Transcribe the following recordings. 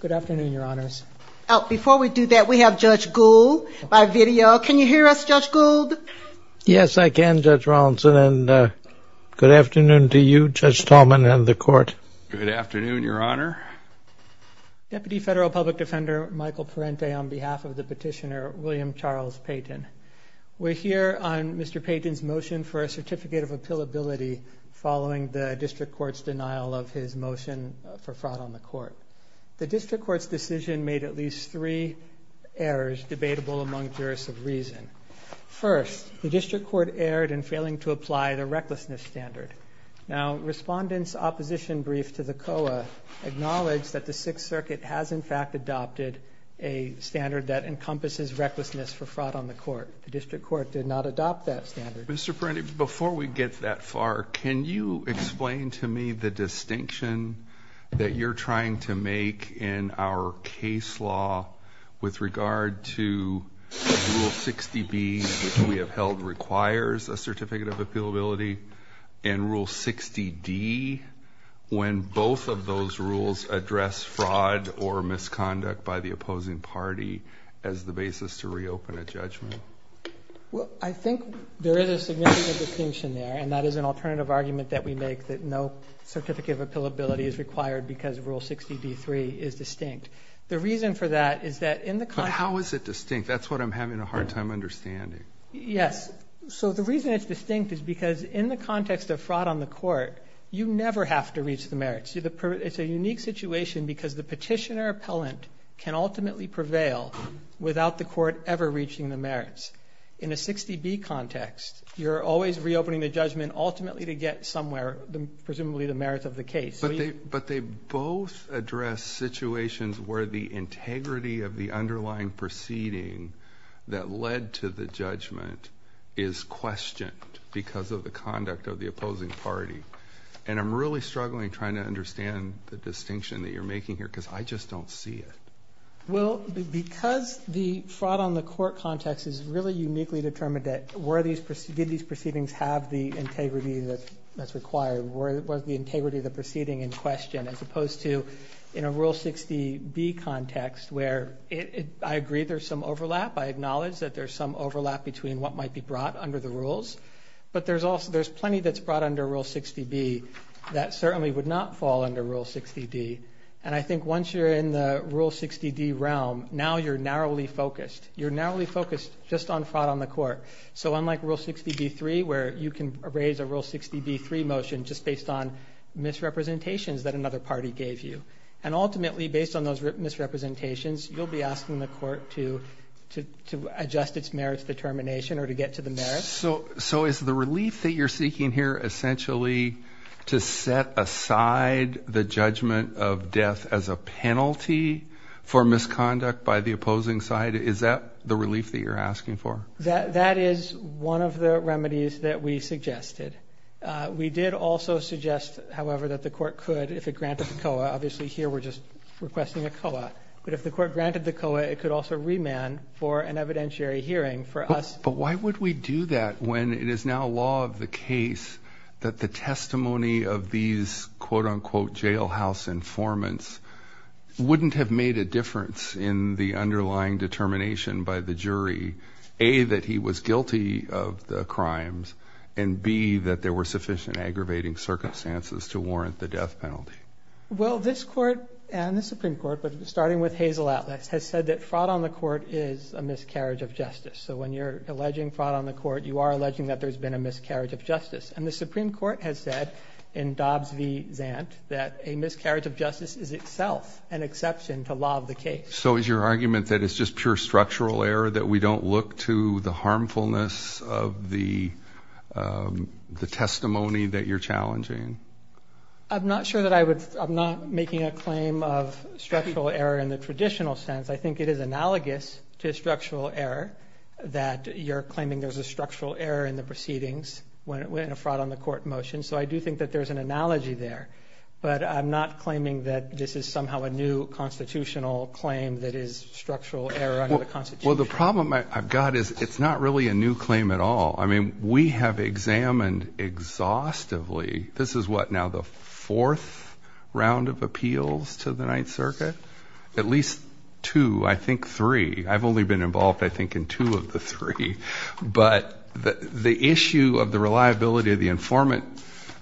Good afternoon, your honors. Oh, before we do that, we have Judge Gould by video. Can you hear us, Judge Gould? Yes, I can, Judge Rawlinson, and good afternoon to you, Judge Tallman, and the court. Good afternoon, your honor. Deputy Federal Public Defender Michael Parente on behalf of the petitioner William Charles Payton. We're here on Mr. Payton's motion for a certificate of appealability following the district court's denial of his motion for fraud on the court. The district court's decision made at least three errors debatable among jurists of reason. First, the district court erred in failing to apply the recklessness standard. Now, respondents' opposition brief to the COA acknowledged that the Sixth Circuit has in fact adopted a standard that encompasses recklessness for fraud on the court. The district court did not adopt that standard. Mr. Parente, before we get that far, can you explain to me the distinction that you're trying to make in our case law with regard to Rule 60B, which we have held requires a certificate of appealability, and Rule 60D, when both of those rules address fraud or misconduct by the opposing party as the basis to reopen a judgment? Well, I think there is a significant distinction there, and that is an alternative argument that we make, that no certificate of appealability is required because Rule 60D-3 is distinct. The reason for that is that in the context... But how is it distinct? That's what I'm having a hard time understanding. Yes, so the reason it's distinct is because in the context of fraud on the court, you never have to reach the merits. It's a unique situation because the petitioner appellant can ultimately prevail without the court ever reaching the merits. In a 60B context, you're always reopening the judgment ultimately to get somewhere, presumably the merits of the case. But they both address situations where the integrity of the underlying proceeding that led to the judgment is questioned because of the conduct of the opposing party. And I'm really struggling trying to understand the distinction that you're making here because I just don't see it. Well, because the fraud on the court context is really uniquely determined, did these proceedings have the integrity that's required? Was the integrity of the proceeding in question, as opposed to in a Rule 60B context, where I agree there's some overlap. I acknowledge that there's some overlap between what might be brought under the rules. But there's plenty that's brought under Rule 60B that certainly would not fall under Rule 60D. And I think once you're in the Rule 60D realm, now you're narrowly focused. You're narrowly focused just on fraud on the court. So unlike Rule 60B-3, where you can raise a Rule 60B-3 motion just based on misrepresentations that another party gave you, and ultimately based on those misrepresentations, you'll be asking the court to adjust its merits determination or to get to the merits. So is the relief that you're seeking here essentially to set aside the judgment of death as a penalty for misconduct by the opposing side? Is that the relief that you're asking for? That is one of the remedies that we suggested. We did also suggest, however, that the court could, if it granted the COA, obviously here we're just requesting a COA, but if the court granted the COA, it could also remand for an evidentiary hearing for us. But why would we do that when it is now law of the case that the testimony of these quote-unquote jailhouse informants wouldn't have made a difference in the underlying determination by the jury, A, that he was guilty of the crimes, and B, that there were sufficient aggravating circumstances to warrant the death penalty? Well, this Court and the Supreme Court, starting with Hazel Atlas, has said that fraud on the court is a miscarriage of justice. So when you're alleging fraud on the court, you are alleging that there's been a miscarriage of justice. And the Supreme Court has said in Dobbs v. Zant that a miscarriage of justice is itself an exception to law of the case. So is your argument that it's just pure structural error, that we don't look to the harmfulness of the the testimony that you're challenging? I'm not sure that I would, I'm not making a claim of structural error in the traditional sense. I think it is analogous to structural error, that you're claiming there's a structural error in the proceedings when a fraud on the court motion. So I do think that there's an analogy there. But I'm not claiming that this is somehow a new constitutional claim that is structural error under the Constitution. Well, the problem I've got is it's not really a new claim at all. I mean, we have examined exhaustively, this is what now the fourth round of appeals to the Ninth Circuit, at least two, I think three. I've only been involved, I think, in two of the three. But the issue of the reliability of the informant,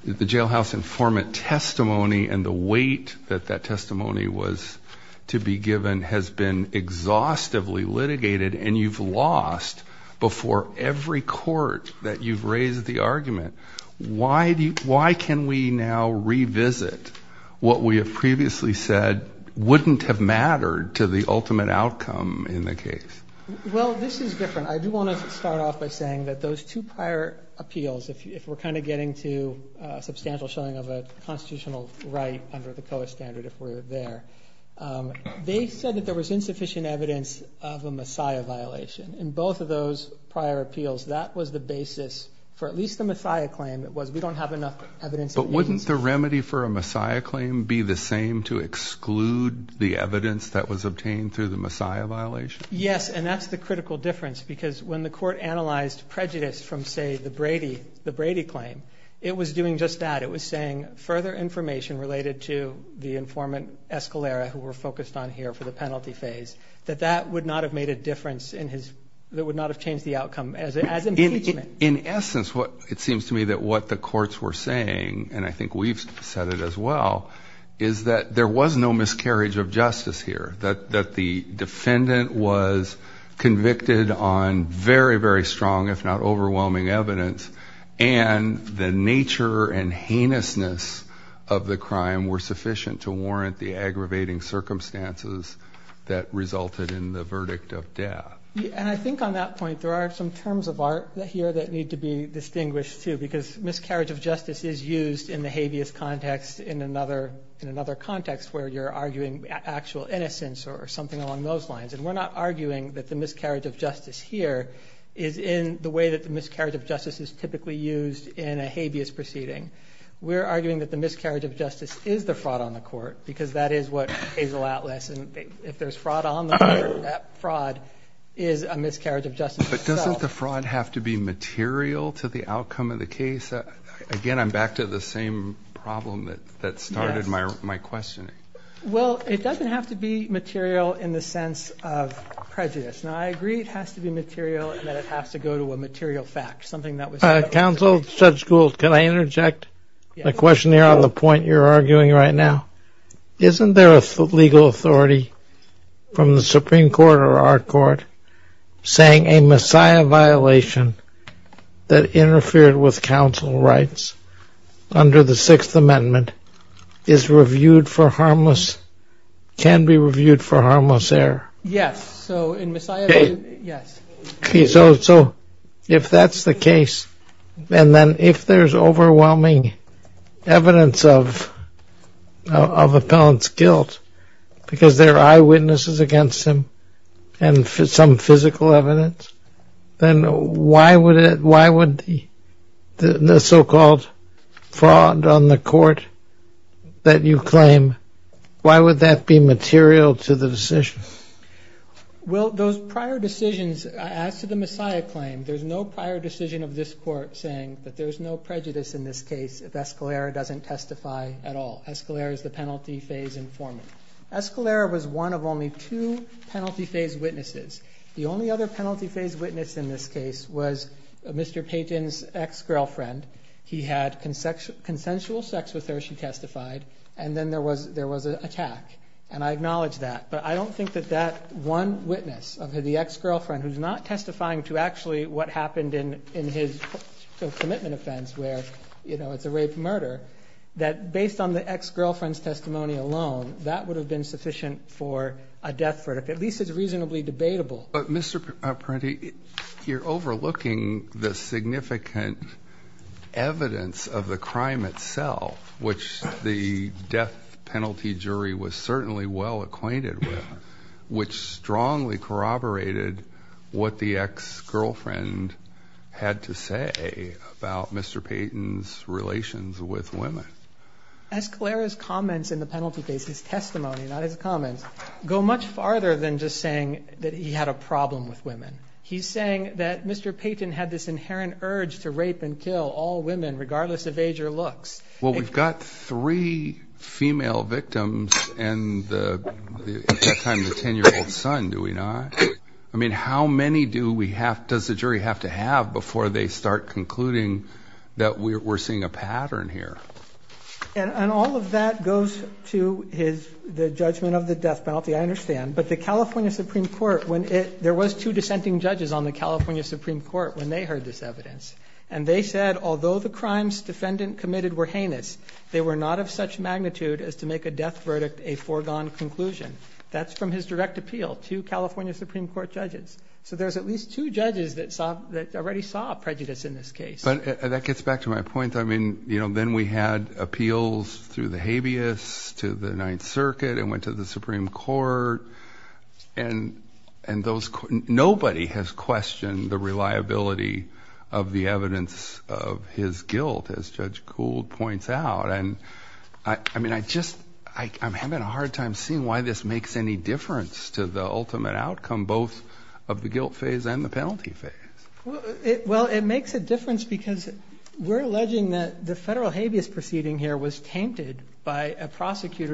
the jailhouse informant testimony and the weight that that testimony was to be given has been exhaustively litigated and you've lost before every court that you've raised the argument. Why can we now revisit what we have previously said wouldn't have mattered to the ultimate outcome in the case? Well, this is different. I do want to start off by saying that those two prior appeals, if we're kind of getting to substantial showing of a constitutional right under the COA standard, if we're there, they said that there was insufficient evidence of a messiah violation. In both of those prior appeals, that was the basis for at least the messiah claim. It was we don't have enough evidence. But wouldn't the remedy for a messiah claim be the same to exclude the evidence that was obtained through the messiah violation? Yes, and that's the critical difference because when the court analyzed prejudice from, say, the Brady, the Brady claim, it was doing just that. It was saying further information related to the informant Escalera, who were focused on here for the penalty phase, that that would not have made a difference in his, that would not have changed the outcome as an impeachment. In essence, what it seems to me that what the courts were saying, and I think we've said it as well, is that there was no miscarriage of justice here. That the defendant was convicted on very, very strong, if not overwhelming evidence, and the nature and heinousness of the crime were sufficient to warrant the aggravating circumstances that resulted in the verdict of death. And I think on that point there are some terms of art here that need to be distinguished too, because miscarriage of justice is used in the habeas context in another, in another context where you're arguing actual innocence or something along those lines. And we're not arguing that the miscarriage of justice here is in the way that the miscarriage of justice is typically used in a habeas proceeding. We're arguing that the miscarriage of justice is the fraud on the court, because that is what Hazel Atlas, and if there's fraud on the court, that fraud is a miscarriage of justice itself. But doesn't the fraud have to be material to the outcome of the case? Again, I'm back to the same problem that started my questioning. Well, it doesn't have to be material in the sense of prejudice. Now, I agree it has to be material and that it has to go to a material fact, something that was... Counsel, Judge Gould, can I interject a question here on the point you're arguing right now? Isn't there a legal authority from the Supreme Court or our court saying a messiah violation that interfered with counsel rights under the Sixth Amendment is reviewed for harmless, can be reviewed for harmless error? Yes, so in messiah... Okay, so if that's the case, and then if there's overwhelming evidence of appellant's guilt, because there are eyewitnesses against him and some physical evidence, then why would it, why would the so-called fraud on the court that you claim, why would that be material to the decision? Well, those prior decisions, as to the messiah claim, there's no prior decision of this court saying that there's no prejudice in this case if Escalera doesn't testify at all. Escalera is the penalty phase informant. Escalera was one of only two penalty phase witnesses. The only other penalty phase witness in this case was Mr. Payton's ex-girlfriend. He had consensual sex with her, she testified, and then there was, there was an attack. And I acknowledge that, but I don't think that that one witness of the ex-girlfriend, who's not testifying to actually what happened in his commitment offense, where, you know, it's a rape murder, that based on the ex-girlfriend's testimony alone, that would have been sufficient for a death verdict, at least it's reasonably debatable. But Mr. Parente, you're overlooking the significant evidence of the crime itself, which the death penalty jury was certainly well acquainted with, which strongly corroborated what the ex-girlfriend had to say about Mr. Payton's relations with women. Escalera's comments in the penalty case, his testimony, not his comments, go much farther than just saying that he had a problem with women. He's saying that Mr. Payton had this inherent urge to rape and kill all women, regardless of age or looks. Well, we've got three female victims and at that time, the 10-year-old son, do we not? I mean, how many do we have, does the jury have to have before they start concluding that we're seeing a pattern here? And all of that goes to his, the judgment of the death penalty, I understand. But the California Supreme Court, when it, there was two dissenting judges on the California Supreme Court when they heard this evidence, and they said, although the crimes defendant committed were heinous, they were not of such magnitude as to make a death verdict a foregone conclusion. That's from his direct appeal to California Supreme Court judges. So there's at least two judges that saw, that already saw prejudice in this case. But that gets back to my point. I mean, you know, then we had appeals through the habeas to the Ninth Circuit and went to the Supreme Court and those, nobody has questioned the reliability of the evidence of his guilt, as Judge Kould points out. And I mean, I just, I'm having a hard time seeing why this makes any difference to the ultimate outcome, both of the guilt phase and the penalty phase. Well, it makes a difference because we're alleging that the federal habeas proceeding here was tainted by a I think it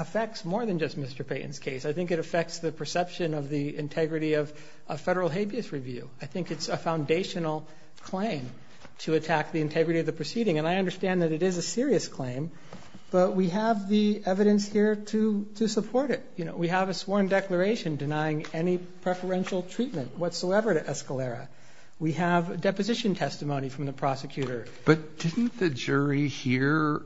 affects more than just Mr. Payton's case. I think it affects the perception of the integrity of a federal habeas review. I think it's a foundational claim to attack the integrity of the proceeding. And I understand that it is a serious claim, but we have the evidence here to, to support it. You know, we have a sworn declaration denying any preferential treatment whatsoever to Escalera. We have a deposition testimony from the prosecutor. But didn't the jury hear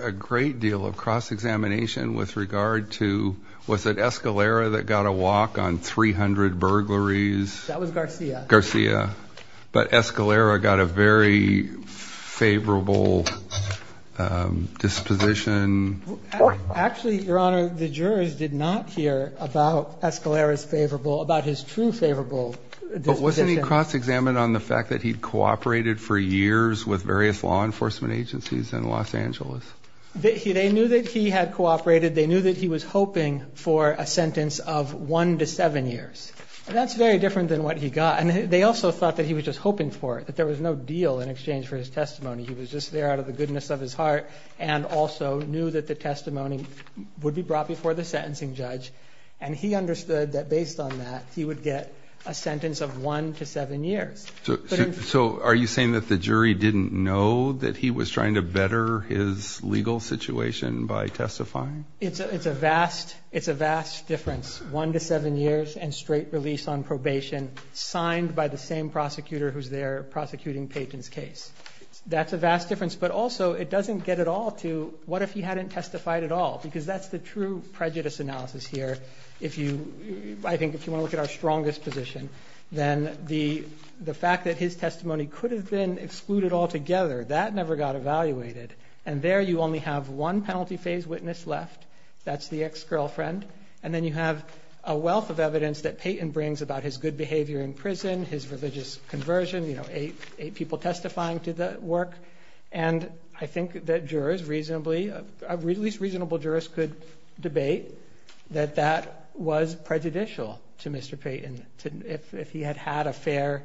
a great deal of cross-examination with regard to, was it Escalera that got a walk on 300 burglaries? That was Garcia. Garcia. But Escalera got a very favorable disposition. Actually, Your Honor, the jurors did not hear about Escalera's favorable, about his true favorable disposition. But wasn't he cross-examined on the fact that he'd cooperated for years with various law enforcement agencies in Los Angeles? They knew that he had cooperated. They knew that he was hoping for a sentence of one to seven years, and that's very different than what he got. And they also thought that he was just hoping for it, that there was no deal in exchange for his testimony. He was just there out of the goodness of his heart and also knew that the testimony would be brought before the sentencing judge. And he understood that based on that, he would get a sentence of one to seven years. So are you saying that the jury didn't know that he was trying to better his legal situation by testifying? It's a vast, it's a vast difference. One to seven years and straight release on probation signed by the same prosecutor who's there prosecuting Paton's case. That's a vast difference. But also, it doesn't get at all to what if he hadn't testified at all? Because that's the true prejudice analysis here. If you, I think if you want to look at our strongest position, then the fact that his testimony could have been excluded altogether, that never got evaluated. And there you only have one penalty phase witness left. That's the ex-girlfriend. And then you have a wealth of evidence that Paton brings about his good behavior in prison, his religious conversion, you know, eight people testifying to the work. And I think that jurors reasonably, at least reasonable jurors could debate that that was prejudicial to Mr. Paton, if he had had a fair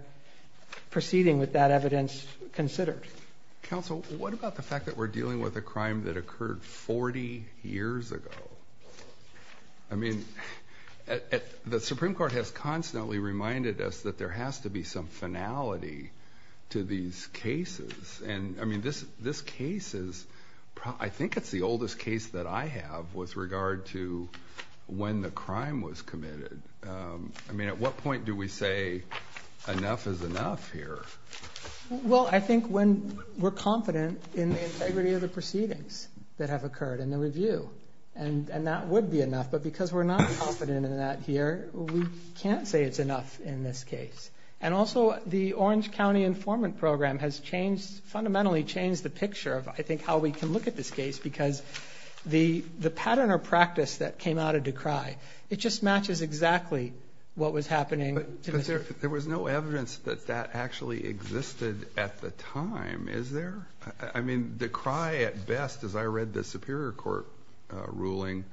proceeding with that evidence considered. Counsel, what about the fact that we're dealing with a crime that occurred 40 years ago? I mean, the Supreme Court has constantly reminded us that there has to be some finality to these cases. And I mean, this case is, I think it's the oldest case that I have with regard to when the crime was committed. I mean, at what point do we say enough is enough here? Well, I think when we're confident in the integrity of the proceedings that have occurred in the review, and that would be enough. But because we're not confident in that here, we can't say it's enough in this case. And also, the Orange County informant program has changed, fundamentally changed the picture of, I think, how we can look at this case. Because the pattern or practice that came out of Decry, it just matches exactly what was happening. But there was no evidence that that actually existed at the time, is there? I mean, Decry, at best, as I read the Superior Court ruling,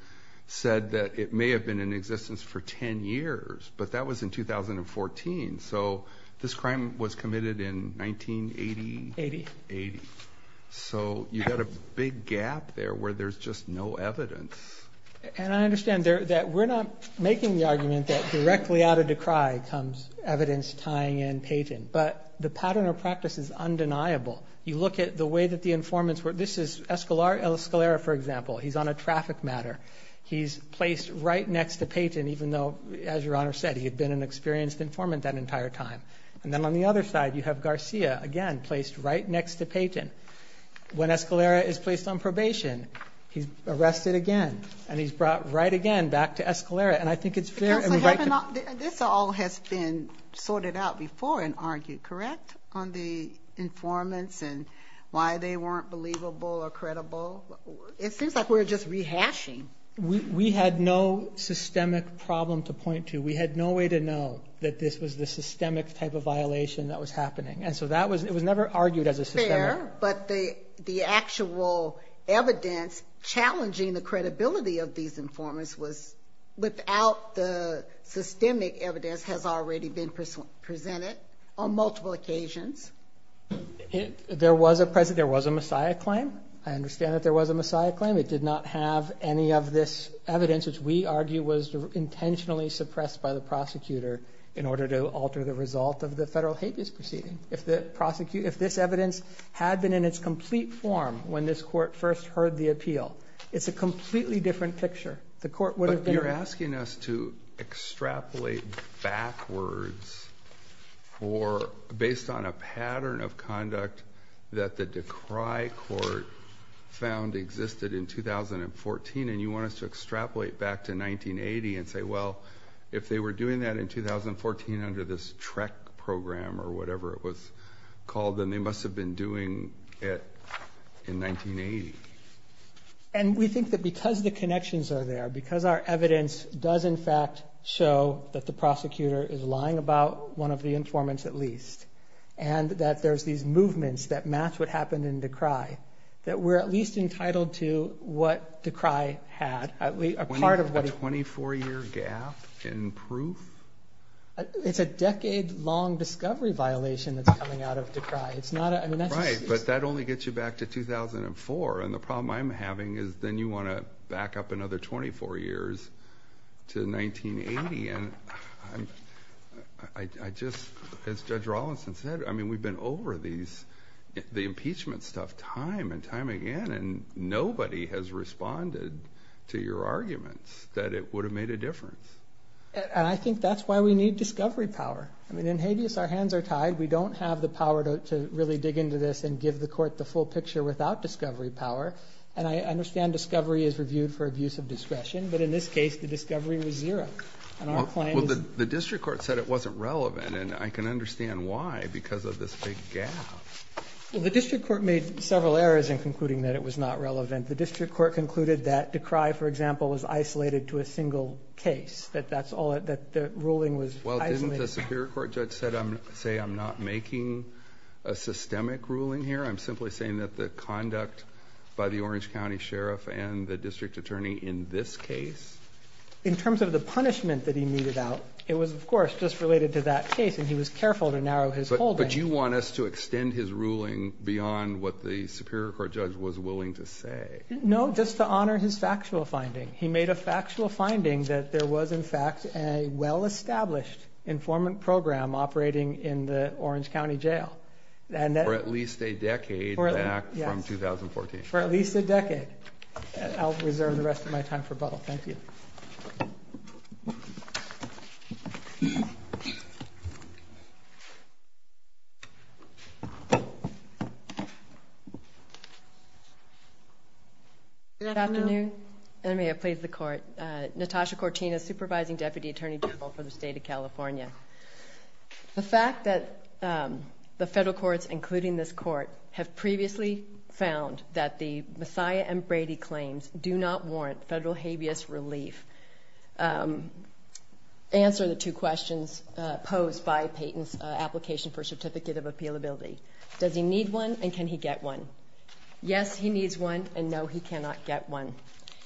said that it may have been in existence for 10 years. But that was in 2014. So this crime was committed in 1980. Eighty. Eighty. So you've got a big gap there where there's just no evidence. And I understand that we're not making the argument that directly out of Decry comes evidence tying in Payton. But the pattern or practice is undeniable. You look at the way that the informants were. This is Escalera, for example. He's on a traffic matter. He's placed right next to Payton, even though, as Your Honor said, he had been an experienced informant that entire time. And then on the other side, you have Garcia, again, placed right next to Payton. When Escalera is placed on probation, he's arrested again. And he's brought right again back to Escalera. And I think it's fair. Counsel, this all has been sorted out before and argued, correct, on the informants and why they weren't believable or credible? It seems like we're just rehashing. We had no systemic problem to point to. We had no way to know that this was the systemic type of violation that was happening. And so that was it was never argued as a system. But the actual evidence challenging the credibility of these informants was without the systemic evidence has already been presented on multiple occasions. There was a precedent. There was a messiah claim. I understand that there was a messiah claim. It did not have any of this evidence, which we argue was intentionally suppressed by the prosecutor in order to alter the result of the federal habeas proceeding. If the prosecutor, if this evidence had been in its complete form when this court first heard the appeal, it's a completely different picture. You're asking us to extrapolate backwards or based on a pattern of conduct that the decry court found existed in 2014. And you want us to extrapolate back to 1980 and say, well, if they were doing that in 2014 under this TREC program or whatever it was called, then they must have been doing it in 1980. And we think that because the connections are there, because our evidence does, in fact, show that the prosecutor is lying about one of the informants at least, and that there's these movements that match what happened in Decry, that we're at least entitled to what Decry had, at least a part of what... A 24-year gap in proof? It's a decade-long discovery violation that's coming out of Decry. Right, but that only gets you back to 2004. And the problem I'm having is then you want to back up another 24 years to 1980. And I just, as Judge Rawlinson said, I mean, we've been over these, the impeachment stuff time and time again, and nobody has responded to your arguments that it would have made a difference. And I think that's why we need discovery power. I mean, in habeas, our hands are tied. We don't have the power to really dig into this and give the court the full picture without discovery power. And I understand discovery is reviewed for abuse of discretion. But in this case, the discovery was zero. And our plan is... Well, the district court said it wasn't relevant. And I can understand why, because of this big gap. Well, the district court made several errors in concluding that it was not relevant. The district court concluded that Decry, for example, was isolated to a single case, that that's all, that the ruling was isolated. Well, didn't the superior court judge say, I'm not making a systemic ruling here. I'm simply saying that the conduct by the Orange County Sheriff and the district attorney in this case. In terms of the punishment that he needed out, it was, of course, just related to that case. And he was careful to narrow his holdings. But you want us to extend his ruling beyond what the superior court judge was willing to say. No, just to honor his factual finding. He made a factual finding that there was, in fact, a well-established informant program operating in the Orange County Jail. For at least a decade back from 2014. For at least a decade. I'll reserve the rest of my time for Buttle. Thank you. Good afternoon. And may it please the court. Natasha Cortina, supervising deputy attorney general for the state of California. The fact that the federal courts, including this court, have previously found that the Messiah and Brady claims do not warrant federal habeas relief. Answer the two questions posed by Payton's application for a certificate of appealability. Does he need one, and can he get one? Yes, he needs one, and no, he cannot get one.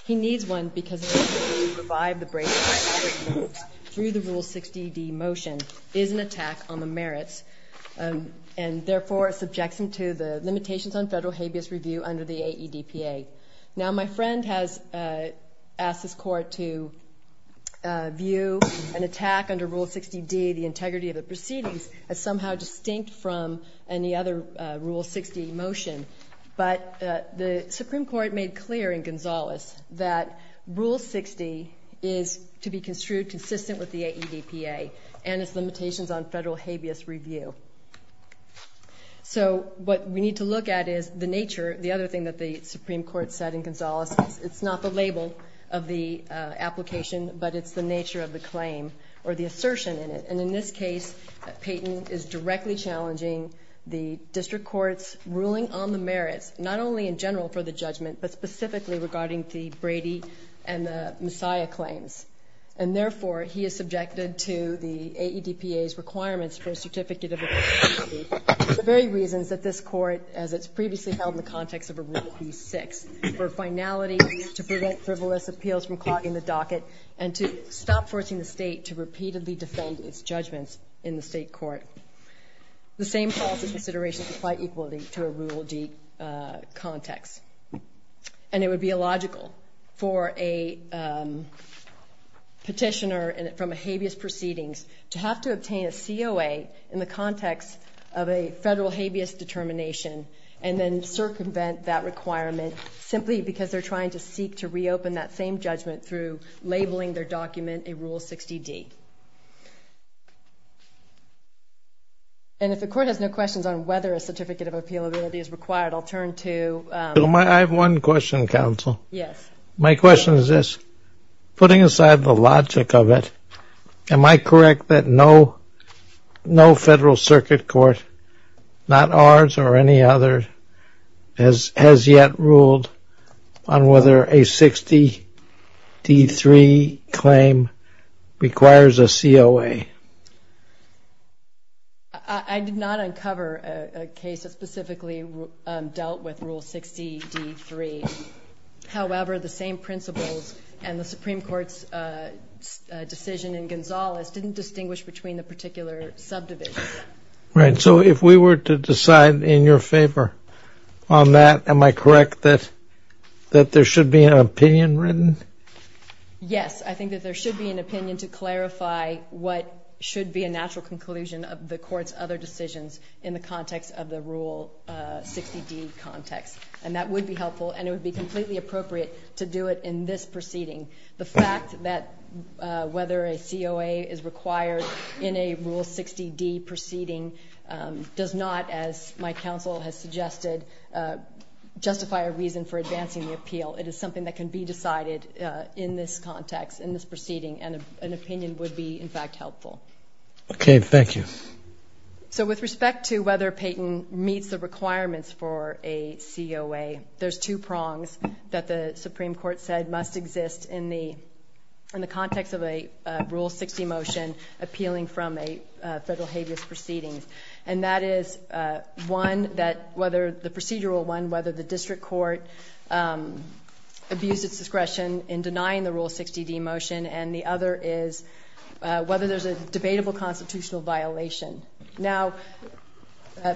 He needs one because it is to revive the Brady Act through the Rule 60D motion is an attack on the merits. And therefore, it subjects him to the limitations on federal habeas review under the AEDPA. Now, my friend has asked this court to view an attack under Rule 60D, the integrity of the proceedings, as somehow distinct from any other Rule 60 motion. But the Supreme Court made clear in Gonzales that Rule 60 is to be construed consistent with the AEDPA and its limitations on federal habeas review. So what we need to look at is the nature. The other thing that the Supreme Court said in Gonzales is it's not the label of the application, but it's the nature of the claim or the assertion in it. And in this case, Payton is directly challenging the district court's ruling on the merits, not only in general for the judgment, but specifically regarding the Brady and the Messiah claims. And therefore, he is subjected to the AEDPA's requirements for a certificate of appealability for the very reasons that this court, as it's previously held in the context of a Rule B6, for finality, to prevent frivolous appeals from clogging the docket, and to stop forcing the state to repeatedly defend its judgment. In the state court, the same policy considerations apply equally to a Rule D context. And it would be illogical for a petitioner from a habeas proceedings to have to obtain a COA in the context of a federal habeas determination, and then circumvent that requirement simply because they're trying to seek to reopen that same judgment through labeling their document a Rule 60D. And if the court has no questions on whether a certificate of appealability is required, I'll turn to... I have one question, counsel. Yes. My question is this. Putting aside the logic of it, am I correct that no federal circuit court, not ours or any other, has yet ruled on whether a 60D3 claim requires a COA? I did not uncover a case that specifically dealt with Rule 60D3. However, the same principles and the Supreme Court's decision in Gonzales didn't distinguish between the particular subdivisions. Right. So if we were to decide in your favor on that, am I correct that there should be an opinion written? Yes. I think that there should be an opinion to clarify what should be a natural conclusion of the court's other decisions in the context of the Rule 60D context. And that would be helpful, and it would be completely appropriate to do it in this proceeding. The fact that whether a COA is required in a Rule 60D proceeding does not, as my counsel has suggested, justify a reason for advancing the appeal. It is something that can be decided in this context, in this proceeding, and an opinion would be, in fact, helpful. Okay. Thank you. So with respect to whether Peyton meets the requirements for a COA, there's two prongs that the Supreme Court said must exist in the context of a Rule 60 motion appealing from a federal habeas proceeding. And that is one, the procedural one, whether the district court abused its discretion in denying the Rule 60D motion, and the other is whether there's a debatable constitutional violation. Now,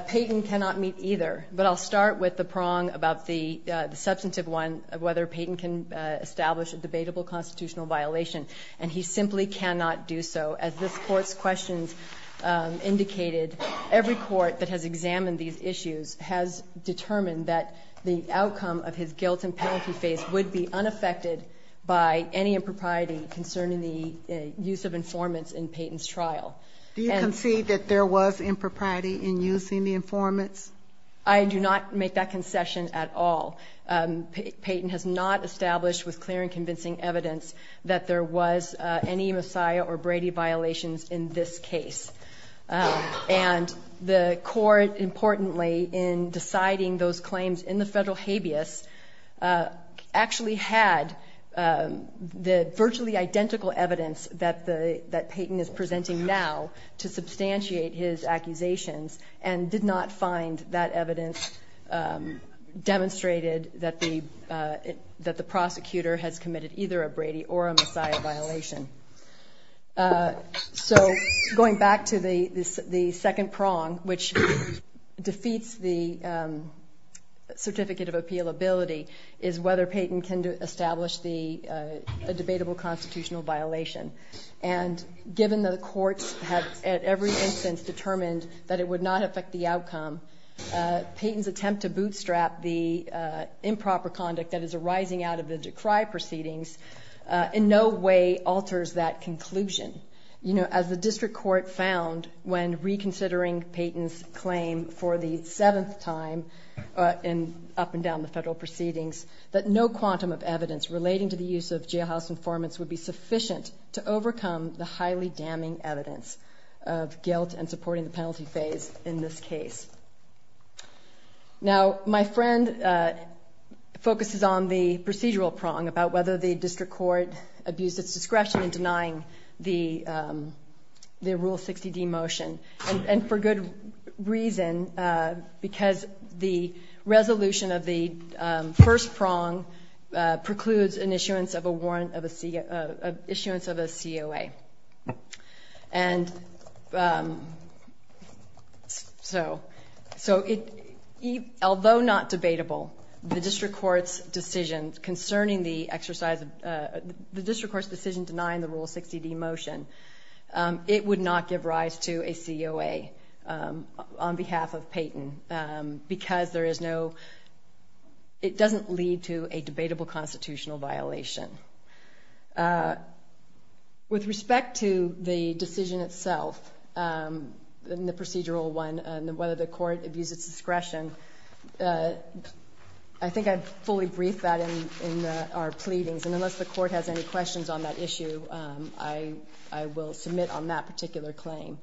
Peyton cannot meet either, but I'll start with the prong about the substantive one of whether Peyton can establish a debatable constitutional violation. And he simply cannot do so. As this Court's questions indicated, every court that has examined these issues has determined that the outcome of his guilt and penalty phase would be unaffected by any impropriety concerning the use of informants in Peyton's trial. Do you concede that there was impropriety in using the informants? I do not make that concession at all. Peyton has not established with clear and convincing evidence that there was any Messiah or Brady violations in this case. And the Court, importantly, in deciding those claims in the federal habeas, actually had the virtually identical evidence that Peyton is presenting now to substantiate his accusations and did not find that evidence demonstrated that the prosecutor has committed either a Brady or a Messiah violation. So, going back to the second prong, which defeats the certificate of appealability, is whether Peyton can establish a debatable constitutional violation. And given that the courts have at every instance determined that it would not affect the outcome, Peyton's attempt to bootstrap the improper conduct that is arising out of the decry proceedings in no way alters that conclusion. You know, as the District Court found when reconsidering Peyton's claim for the seventh time up and down the federal proceedings, that no quantum of evidence relating to the use of jailhouse informants would be sufficient to overcome the highly damning evidence of guilt and supporting the penalty phase in this case. Now, my friend focuses on the procedural prong about whether the District Court abused its discretion in denying the Rule 60D motion. And for good reason, because the resolution of the first prong precludes an issuance of a warrant of a COA. And so, although not debatable, the District Court's decision concerning the exercise, the District Court's decision denying the Rule 60D motion, it would not give rise to a COA on behalf of Peyton because there is no, it doesn't lead to a debatable constitutional violation. With respect to the decision itself, the procedural one, whether the court abused its discretion, I think I'd fully brief that in our pleadings, and unless the court has any questions on that issue, I will submit on that particular claim.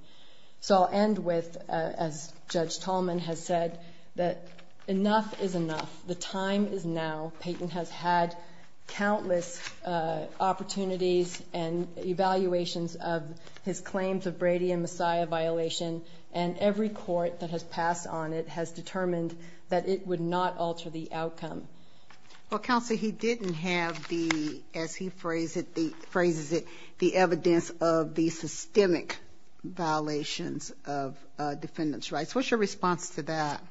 So I'll end with, as Judge Tolman has said, that enough is enough. The time is now. Peyton has had countless opportunities and evaluations of his claims of Brady and Messiah violation, and every court that has passed on it has determined that it would not alter the outcome. Well, Counsel, he didn't have the, as he phrases it, the evidence of the systemic violations of defendants' rights. What's your response to that?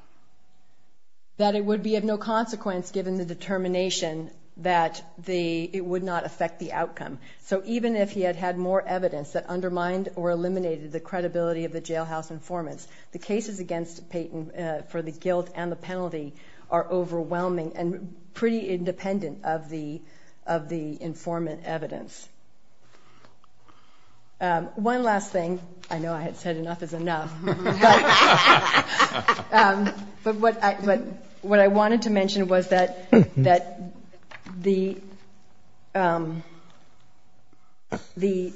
That it would be of no consequence, given the determination, that it would not affect the outcome. So even if he had had more evidence that undermined or eliminated the credibility of the jailhouse informants, the cases against Peyton for the guilt and the penalty are overwhelming and pretty independent of the informant evidence. One last thing. I know I had said enough is enough. But what I wanted to mention was that the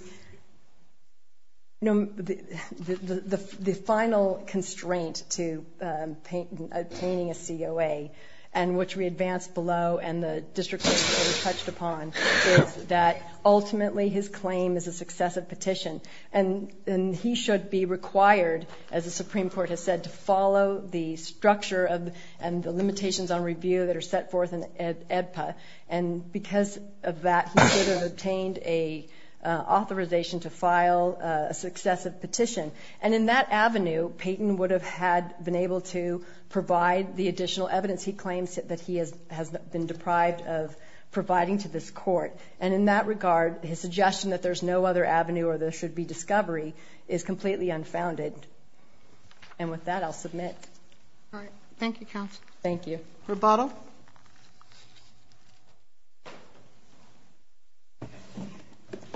final constraint to obtaining a COA, and which we advanced below and the district attorney touched upon, is that ultimately his claim is a successive petition, and he should be required, as the Supreme Court has said, to follow the structure and the limitations on review that are set forth in the AEDPA. And because of that, he should have obtained an authorization to file a successive petition. And in that avenue, Peyton would have been able to provide the additional evidence he claims that he has been deprived of providing to this court. And in that regard, his suggestion that there's no other avenue or there should be discovery is completely unfounded. And with that, I'll submit. All right. Thank you, counsel. Thank you. Rebuttal.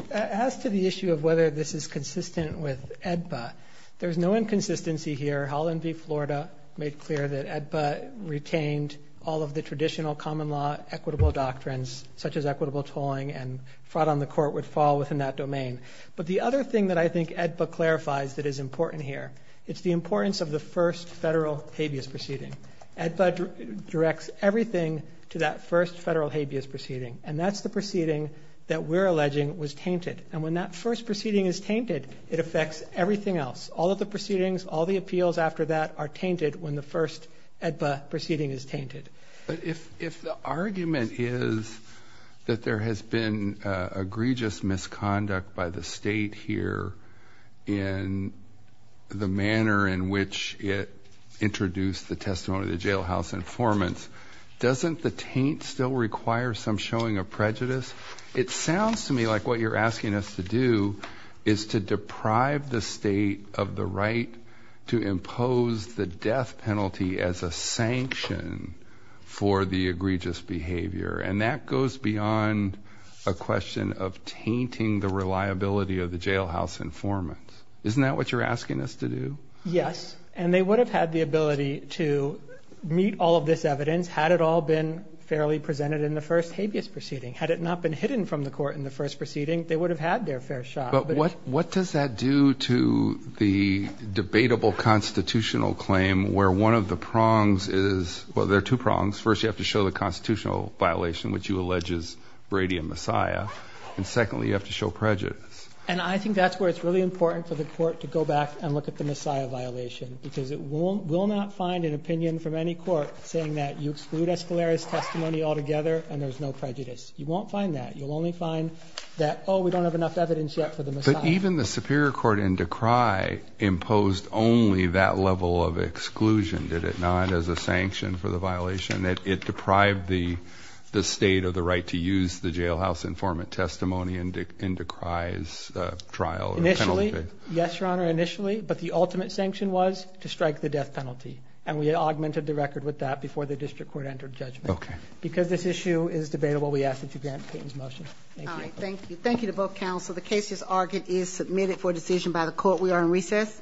As to the issue of whether this is consistent with AEDPA, there's no inconsistency here. made clear that AEDPA retained all of the traditional common law equitable doctrines, such as equitable tolling, and fraud on the court would fall within that domain. But the other thing that I think AEDPA clarifies that is important here, it's the importance of the first federal habeas proceeding. AEDPA directs everything to that first federal habeas proceeding, and that's the proceeding that we're alleging was tainted. And when that first proceeding is tainted, it affects everything else, all of the proceedings, all the appeals after that are tainted when the first AEDPA proceeding is tainted. But if the argument is that there has been egregious misconduct by the state here in the manner in which it introduced the testimony of the jailhouse informants, doesn't the taint still require some showing of prejudice? It sounds to me like what you're asking us to do is to deprive the state of the right to impose the death penalty as a sanction for the egregious behavior. And that goes beyond a question of tainting the reliability of the jailhouse informants. Isn't that what you're asking us to do? Yes. And they would have had the ability to meet all of this evidence had it all been fairly presented in the first habeas proceeding, had it not been hidden from the court in the first proceeding, they would have had their fair shot. But what does that do to the debatable constitutional claim where one of the prongs is, well, there are two prongs. First, you have to show the constitutional violation, which you allege is Brady and Messiah. And secondly, you have to show prejudice. And I think that's where it's really important for the court to go back and look at the Messiah violation, because it will not find an opinion from any court saying that you exclude Escalera's testimony altogether and there's no prejudice. You won't find that. You'll only find that, oh, we don't have enough evidence yet for the Messiah. But even the superior court in Decry imposed only that level of exclusion, did it not, as a sanction for the violation, that it deprived the state of the right to use the jailhouse informant testimony in Decry's trial or penalty? Initially, yes, Your Honor, initially. But the ultimate sanction was to strike the death penalty. And we augmented the record with that before the district court entered judgment. Okay. Because this issue is debatable, we ask that you grant Peyton's motion. Thank you. All right. Thank you. Thank you to both counsel. The case, as argued, is submitted for decision by the court. We are in recess.